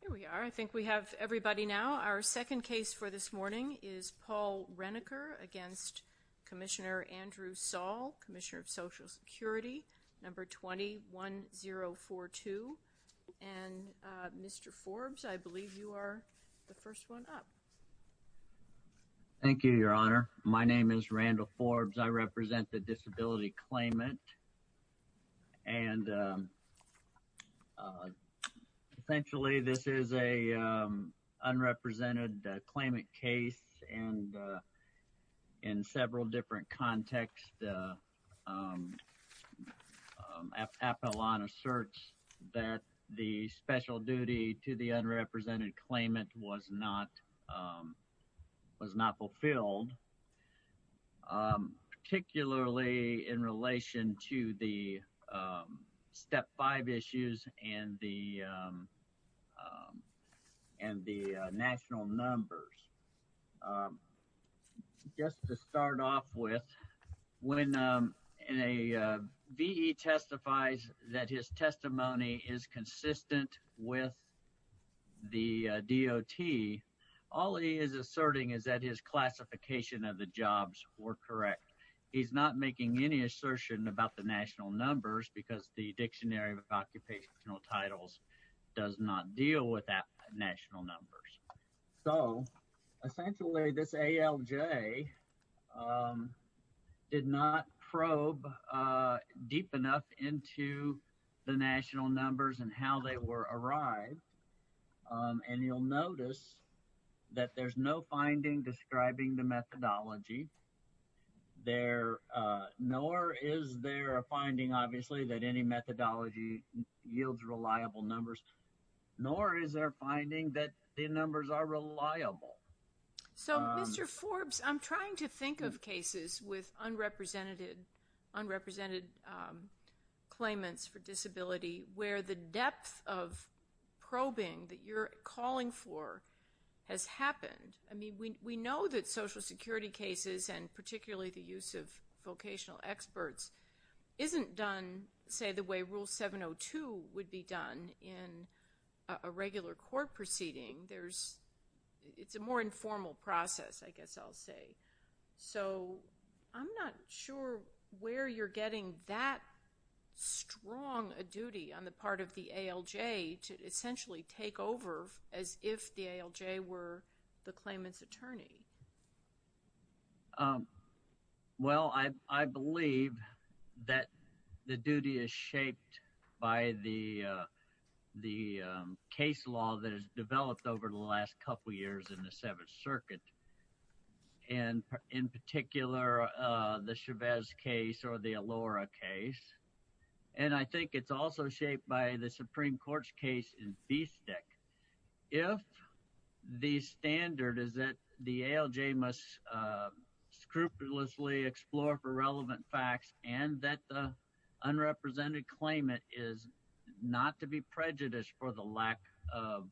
Here we are. I think we have everybody now. Our second case for this morning is Paul Rennaker against Commissioner Andrew Saul, Commissioner of Social Security, number 21042. And Mr. Forbes, I believe you are the first one up. Thank you, Your Honor. My name is Randall Forbes. I represent the Disability Claimant. And essentially, this is an unrepresented claimant case. And in several different contexts, Appelon asserts that the special duty to the unrepresented claimant was not fulfilled, particularly in relation to the Step 5 issues and the national numbers. Just to start off with, when a V.E. testifies that his testimony is consistent with the DOT, all he is asserting is that his classification of the jobs were correct. He's not making any assertion about the national numbers because the Dictionary of Occupational Titles does not deal with national numbers. So essentially, this ALJ did not probe deep enough into the national numbers and how they were arrived. And you'll notice that there's no finding describing the methodology. Nor is there a finding, obviously, that any methodology yields reliable numbers. Nor is there a finding that the numbers are reliable. So, Mr. Forbes, I'm trying to think of cases with unrepresented claimants for disability where the depth of probing that you're calling for has happened. I mean, we know that Social Security cases, and particularly the use of vocational experts, isn't done, say, the way Rule 702 would be done in a regular court proceeding. There's, it's a more informal process, I guess I'll say. So, I'm not sure where you're getting that strong a duty on the part of the ALJ to essentially take over as if the ALJ were the claimant's attorney. Well, I believe that the duty is shaped by the case law that has developed over the last couple of years in the Seventh Circuit. And in particular, the Chavez case or the Alora case. And I think it's also shaped by the Supreme Court's case in Feastick. If the standard is that the ALJ must scrupulously explore for relevant facts and that the unrepresented claimant is not to be prejudiced for the lack of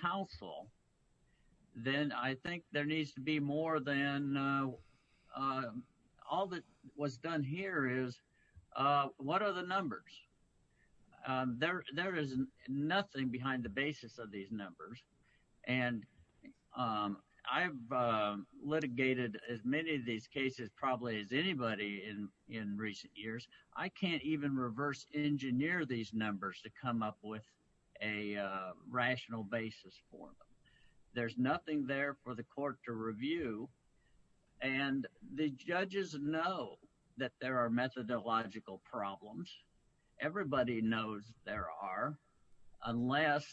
counsel, then I think there needs to be more than, all that was done here is, what are the numbers? There is nothing behind the basis of these numbers. I've litigated as many of these cases probably as anybody in recent years. I can't even reverse engineer these numbers to come up with a rational basis for them. There's nothing there for the court to review. And the judges know that there are methodological problems. Everybody knows there are, unless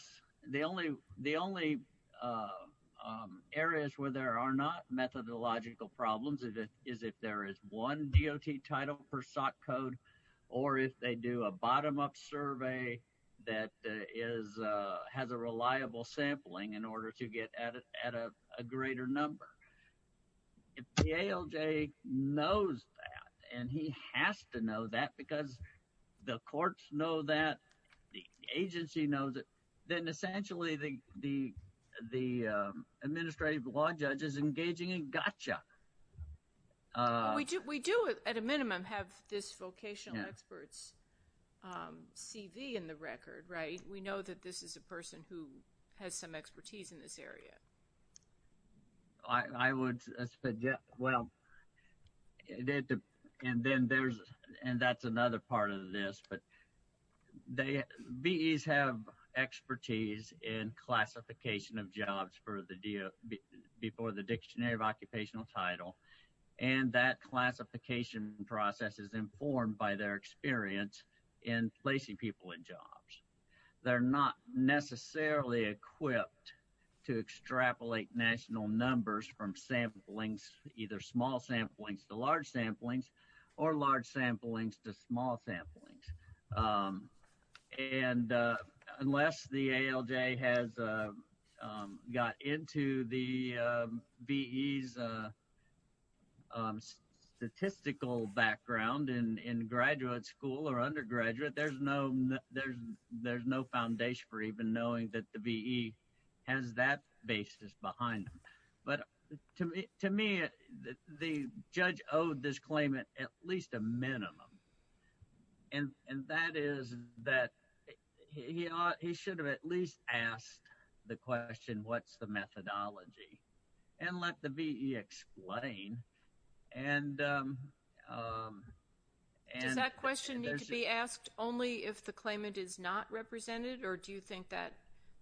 the only areas where there are not methodological problems is if there is one DOT title per SOC code, or if they do a bottom-up survey that has a reliable sampling in order to get at a greater number. If the ALJ knows that, and he has to know that because the courts know that, the agency knows it, then essentially the administrative law judge is engaging in gotcha. We do, at a minimum, have this vocational expert's CV in the record, right? We know that this is a person who has some expertise in this area. I would, well, and then there's, and that's another part of this, but VEs have expertise in classification of jobs for the, before the dictionary of occupational title, and that classification process is informed by their experience in placing people in jobs. They're not necessarily equipped to extrapolate national numbers from samplings, either small samplings to large samplings, or large samplings to small samplings. And unless the ALJ has got into the VEs statistical background in graduate school or undergraduate, there's no foundation for even knowing that the VE has that basis behind them. But to me, the judge owed this claimant at least a minimum, and that is that he ought, he should have at least asked the question, what's the methodology? And let the VE explain. And, and there's-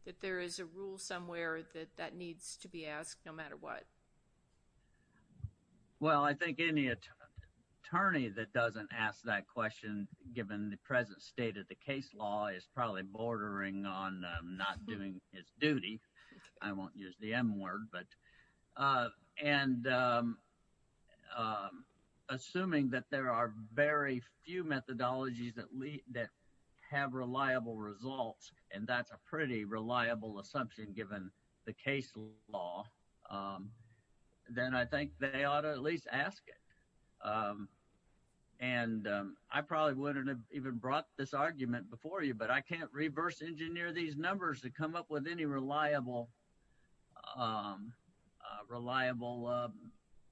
that there is a rule somewhere that that needs to be asked, no matter what. Well, I think any attorney that doesn't ask that question, given the present state of the case law, is probably bordering on not doing his duty. I won't use the M word, but, and assuming that there are very few methodologies that lead, that have reliable results, and that's a pretty reliable assumption given the case law, then I think they ought to at least ask it. And I probably wouldn't have even brought this argument before you, but I can't reverse engineer these numbers to come up with any reliable, reliable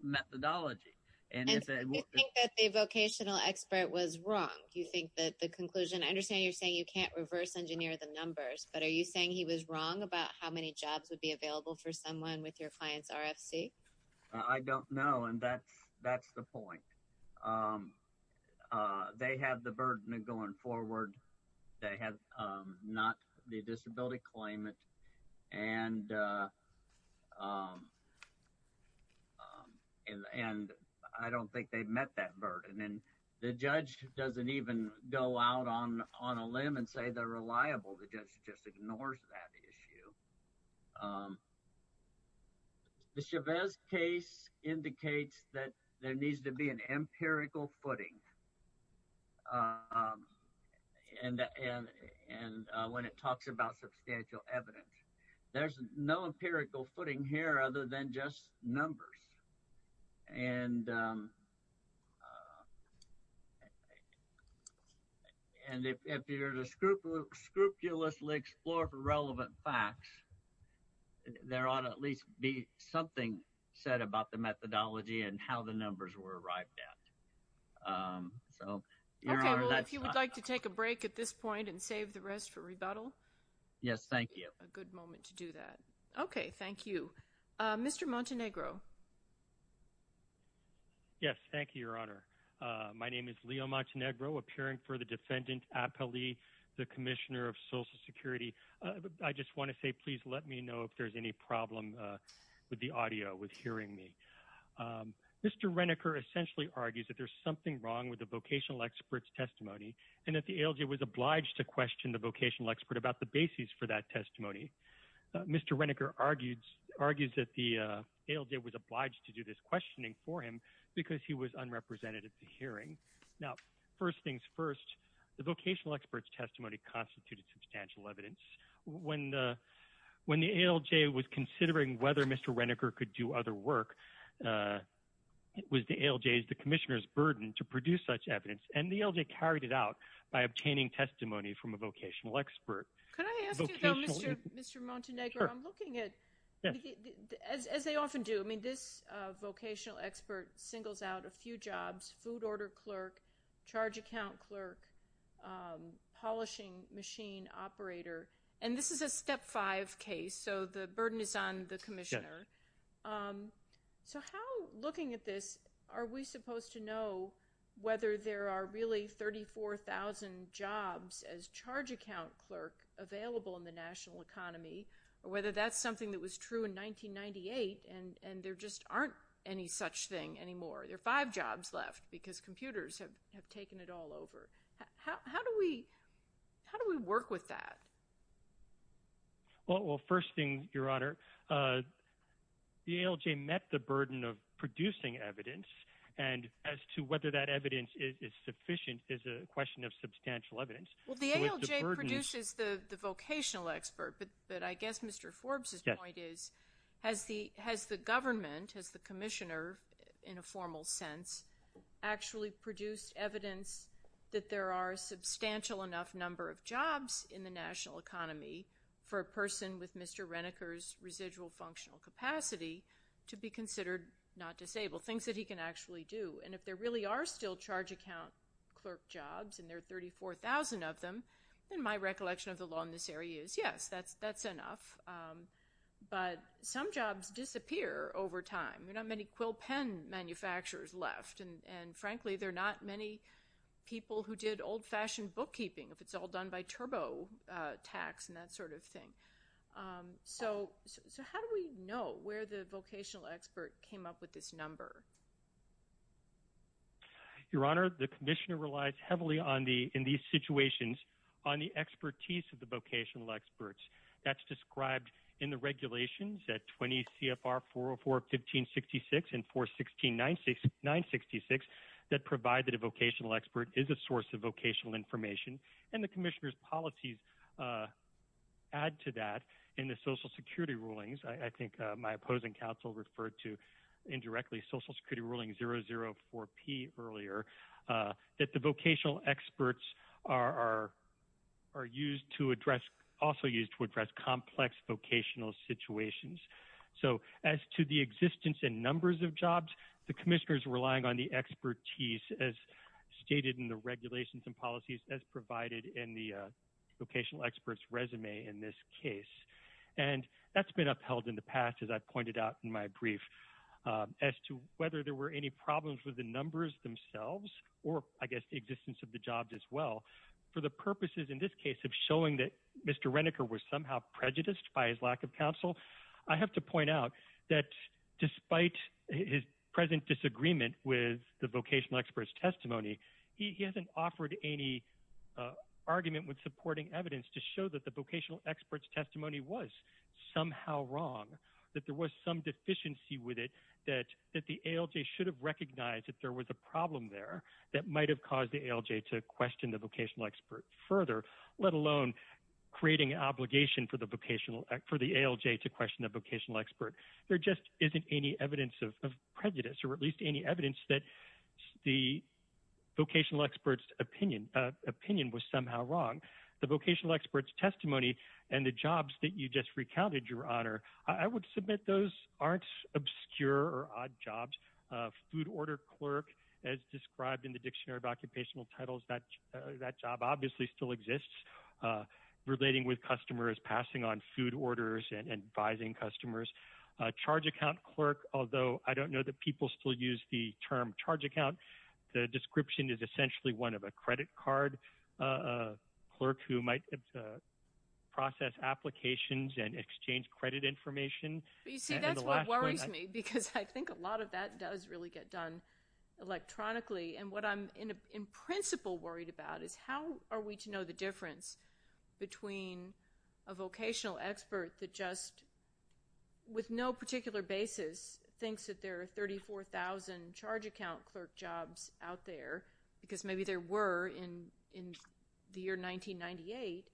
methodology. And do you think that the vocational expert was wrong? Do you think that the conclusion, I understand you're saying you can't reverse engineer the numbers, but are you saying he was wrong about how many jobs would be available for someone with your client's RFC? I don't know. And that's, that's the point. They have the burden of going forward. They have not the disability claimant. And, and I don't think they've met that burden. And the judge doesn't even go out on, on a limb and say they're reliable. The judge just ignores that issue. The Chavez case indicates that there needs to be an empirical footing. And, and, and when it talks about substantial evidence, there's no empirical footing here other than just numbers. And, and if, if you're to scrupulously explore for relevant facts, there ought to at least be something said about the methodology and how the numbers were arrived at. So, you know. Okay, well, if you would like to take a break at this point and save the rest for rebuttal. Yes, thank you. A good moment to do that. Okay, thank you. Mr. Montenegro. Yes, thank you, Your Honor. My name is Leo Montenegro, appearing for the defendant, Appali, the Commissioner of Social Security. I just want to say, please let me know if there's any problem with the audio, with hearing me. Mr. Reniker essentially argues that there's something wrong with the vocational expert's testimony and that the ALJ was obliged to Mr. Reniker argues, argues that the ALJ was obliged to do this questioning for him because he was unrepresentative to hearing. Now, first things first, the vocational expert's testimony constituted substantial evidence. When the, when the ALJ was considering whether Mr. Reniker could do other work, it was the ALJ's, the Commissioner's burden to produce such evidence, and the ALJ carried it out by obtaining testimony from a vocational expert. Could I ask you though, Mr. Montenegro, I'm looking at, as they often do, I mean, this vocational expert singles out a few jobs, food order clerk, charge account clerk, polishing machine operator, and this is a step five case, so the burden is on the Commissioner. So how, looking at this, are we supposed to know whether there are really 34,000 jobs as charge account clerk available in the national economy or whether that's something that was true in 1998 and there just aren't any such thing anymore? There are five jobs left because computers have taken it all over. How do we, how do we work with that? Well, first thing, Your Honor, the ALJ met the burden of producing evidence and as to whether that evidence is sufficient is a question of substantial evidence. Well, the ALJ produces the vocational expert, but I guess Mr. Forbes' point is, has the government, has the Commissioner, in a formal sense, actually produced evidence that there are a substantial enough number of jobs in the national economy for a person with Mr. Reniker's residual functional capacity to be charged? If there are still charge account clerk jobs and there are 34,000 of them, then my recollection of the law in this area is, yes, that's enough, but some jobs disappear over time. There are not many quill pen manufacturers left, and frankly, there are not many people who did old-fashioned bookkeeping if it's all done by turbo tax and that sort of thing. So how do we know where the vocational expert came up with this number? Your Honor, the Commissioner relies heavily in these situations on the expertise of the vocational experts. That's described in the regulations at 20 CFR 404-1566 and 416-966 that provide that a vocational expert is a source of vocational information, and the Commissioner's policies add to that in the Social Security rulings. I think my opposing counsel referred to indirectly Social Security ruling 004-P earlier that the vocational experts are used to address, also used to address complex vocational situations. So as to the existence and numbers of jobs, the Commissioner's relying on the expertise as stated in the regulations and policies as provided in the vocational experts resume in this case, and that's been upheld in the past as I pointed out in my brief. As to whether there were any problems with the numbers themselves, or I guess the existence of the jobs as well, for the purposes in this case of showing that Mr. Renneker was somehow prejudiced by his lack of counsel, I have to point out that despite his present disagreement with the vocational experts testimony, he hasn't offered any argument with supporting evidence to show that the vocational experts testimony was somehow wrong, that there was some deficiency with it, that the ALJ should have recognized that there was a problem there that might have caused the ALJ to question the vocational expert further, let alone creating an obligation for the vocational, for the ALJ to question the vocational expert. There just isn't any evidence of prejudice, or at least any evidence that the vocational experts opinion, opinion was somehow wrong. The vocational experts testimony and the jobs that you just recounted, your honor, I would submit those aren't obscure or odd jobs. A food order clerk, as described in the dictionary of occupational titles, that that job obviously still exists, relating with customers passing on food orders and advising customers. A charge account clerk, although I don't know that people still use the term charge account, the description is essentially one of a credit card clerk who might process applications and exchange credit information. You see, that's what worries me because I think a lot of that does really get done electronically, and what I'm in principle worried about is how are we to know the difference between a vocational expert that just with no particular basis thinks that there are 34,000 charge account clerk jobs out there, because maybe there were in the year 1998,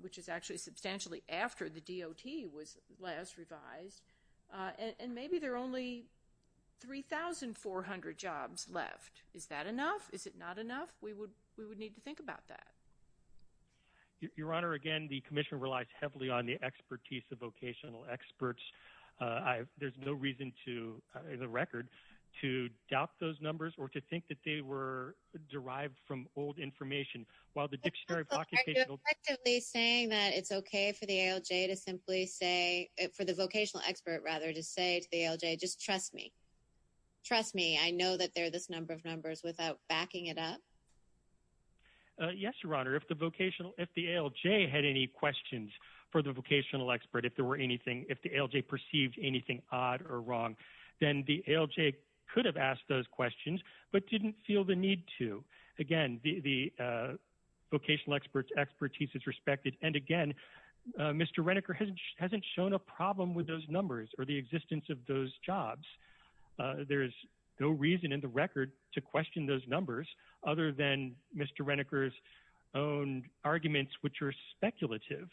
which is actually substantially after the DOT was last revised, and maybe there are only 3,400 jobs left. Is that enough? Is it not enough? We would need to think about that. Your honor, again, the commission relies heavily on the expertise of vocational experts. There's no reason to, in the record, to doubt those numbers or to think that they were derived from old information, while the dictionary of occupational titles... Are you effectively saying that it's okay for the ALJ to simply say, for the vocational expert rather, to say to the ALJ, just trust me, trust me, I know that there are this number of numbers without backing it up? Yes, your honor, if the vocational, if the ALJ had any questions for the vocational expert, if there were anything, if the ALJ perceived anything odd or wrong, then the ALJ could have asked those questions, but didn't feel the need to. Again, the vocational expert's expertise is respected, and again, Mr. Reneker hasn't shown a problem with those numbers or the existence of those jobs. There's no reason in the record to question those numbers other than Mr. Reneker's own arguments, which are speculative.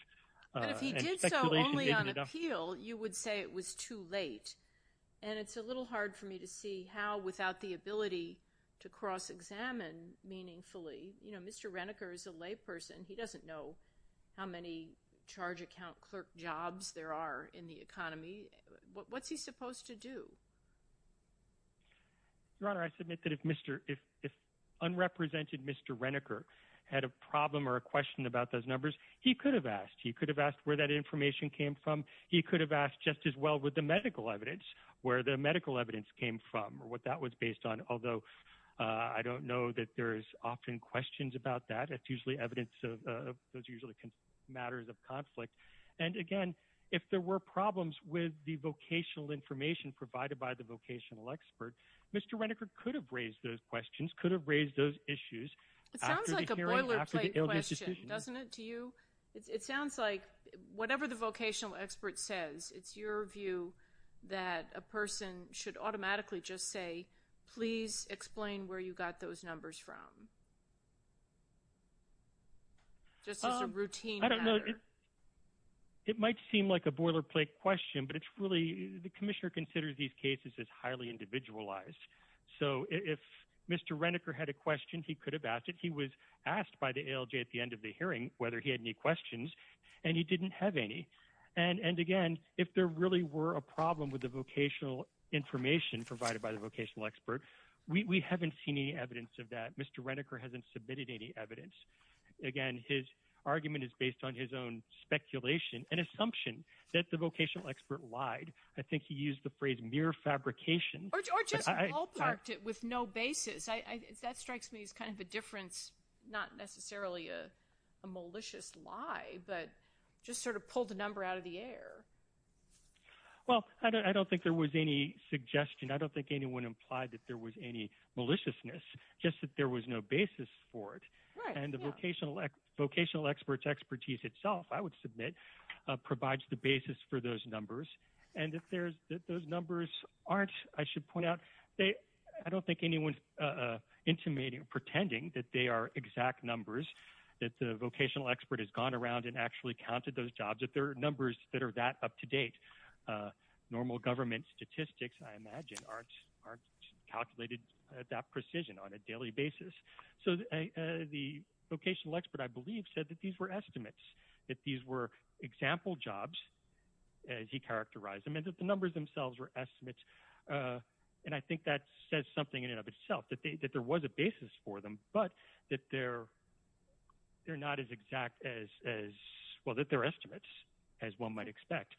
But if he did so only on appeal, you would say it was too late, and it's a little hard for me to see how, without the ability to cross-examine meaningfully, you know, Mr. Reneker is a layperson. He doesn't know how many charge account clerk jobs there are in the economy. What's he supposed to do? Your honor, I submit that if Mr., if unrepresented Mr. Reneker had a problem or a question about those numbers, he could have asked. He could have asked where that information came from. He could have asked just as well with the medical evidence, where the medical evidence came from, or what that was based on, although I don't know that there is often questions about that. It's usually evidence of those usually matters of conflict. And again, if there were problems with the vocational information provided by the vocational expert, Mr. Reneker could have raised those questions, could have raised those issues. It sounds like a boilerplate question, doesn't it, to you? It sounds like whatever the vocational expert says, it's your view that a person should automatically just say, please explain where you got those numbers from. Just as a routine matter. I don't know. It might seem like a boilerplate question, but it's really, the commissioner considers these cases as highly individualized. So if Mr. Reneker had a question, he could have asked it. He was asked by the ALJ at the end of the hearing whether he had any questions, and he didn't have any. And again, if there really were a problem with the vocational information provided by the vocational expert, we haven't seen any or hasn't submitted any evidence. Again, his argument is based on his own speculation and assumption that the vocational expert lied. I think he used the phrase mere fabrication. Or just ballparked it with no basis. That strikes me as kind of a difference, not necessarily a malicious lie, but just sort of pulled the number out of the air. Well, I don't think there was any suggestion. I don't think anyone implied that there was any basis for it. And the vocational expert's expertise itself, I would submit, provides the basis for those numbers. And if there's, those numbers aren't, I should point out, they, I don't think anyone's intimating or pretending that they are exact numbers, that the vocational expert has gone around and actually counted those jobs, that there are numbers that are that up to date. Normal government statistics, I imagine, aren't calculated at that basis. So the vocational expert, I believe, said that these were estimates, that these were example jobs, as he characterized them, and that the numbers themselves were estimates. And I think that says something in and of itself, that there was a basis for them, but that they're not as exact as, well, that they're estimates, as one might expect.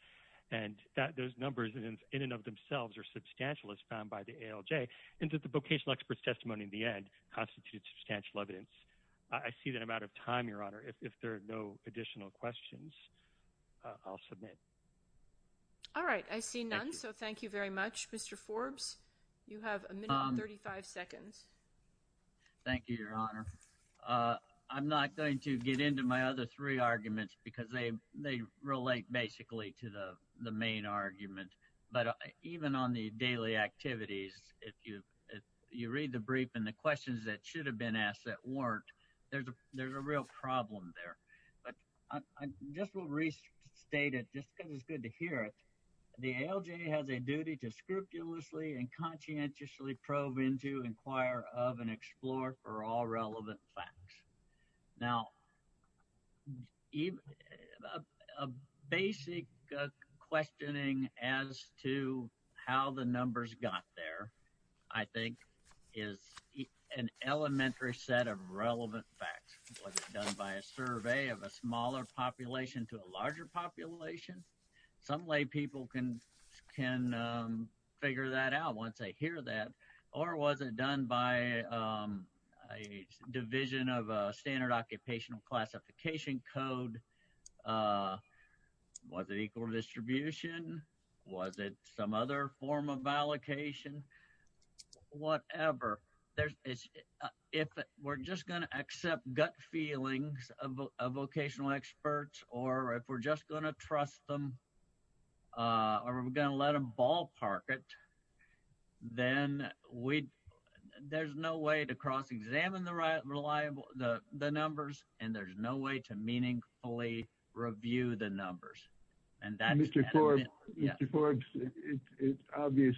And that those numbers in and of themselves are substantial, as found by the ALJ, and that the vocational expert's testimony in the end constitutes substantial evidence. I see that I'm out of time, Your Honor. If there are no additional questions, I'll submit. All right. I see none. So thank you very much. Mr. Forbes, you have a minute and 35 seconds. Thank you, Your Honor. I'm not going to get into my other three arguments, because they relate basically to the main argument. But even on the daily activities, if you read the brief and the questions that should have been asked that weren't, there's a real problem there. But I just will restate it, just because it's good to hear it. The ALJ has a duty to scrupulously and conscientiously probe into, inquire of, and explore for all relevant facts. Now, a basic questioning as to how the numbers got there, I think, is an elementary set of relevant facts. Was it done by a survey of a smaller population to a larger population? Some lay people can figure that out once they hear that. Or was it done by a division of a standard occupational classification code? Was it equal distribution? Was it some other form of allocation? Whatever. If we're just going to accept gut feelings of vocational experts, or if we're just going to trust them, or we're going to let them ballpark it, then there's no way to cross and there's no way to meaningfully review the numbers. And that's... Mr. Forbes, it's obvious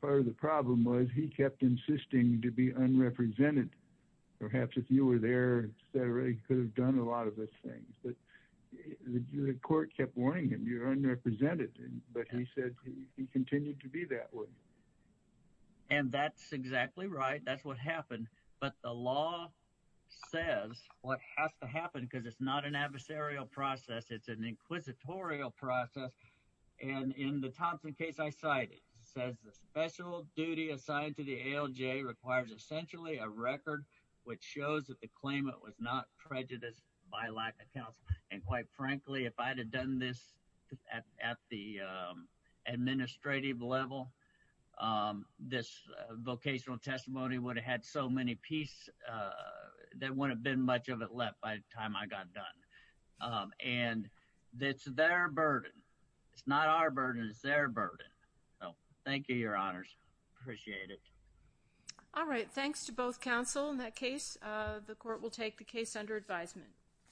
part of the problem was he kept insisting to be unrepresented. Perhaps if you were there, etc., you could have done a lot of those things. But the court kept warning him, you're unrepresented. But he said he continued to be that way. And that's exactly right. That's what happened. But the law says what has to happen, because it's not an adversarial process, it's an inquisitorial process. And in the Thompson case I cited, says the special duty assigned to the ALJ requires essentially a record which shows that the claimant was not prejudiced by lack of counsel. And quite frankly, if I'd have done this at the administrative level, this vocational testimony would have had so many pieces there wouldn't have been much of it left by the time I got done. And it's their burden. It's not our burden. It's their burden. So thank you, Your Honors. Appreciate it. All right. Thanks to both counsel in that case. The court will take the case under advisement.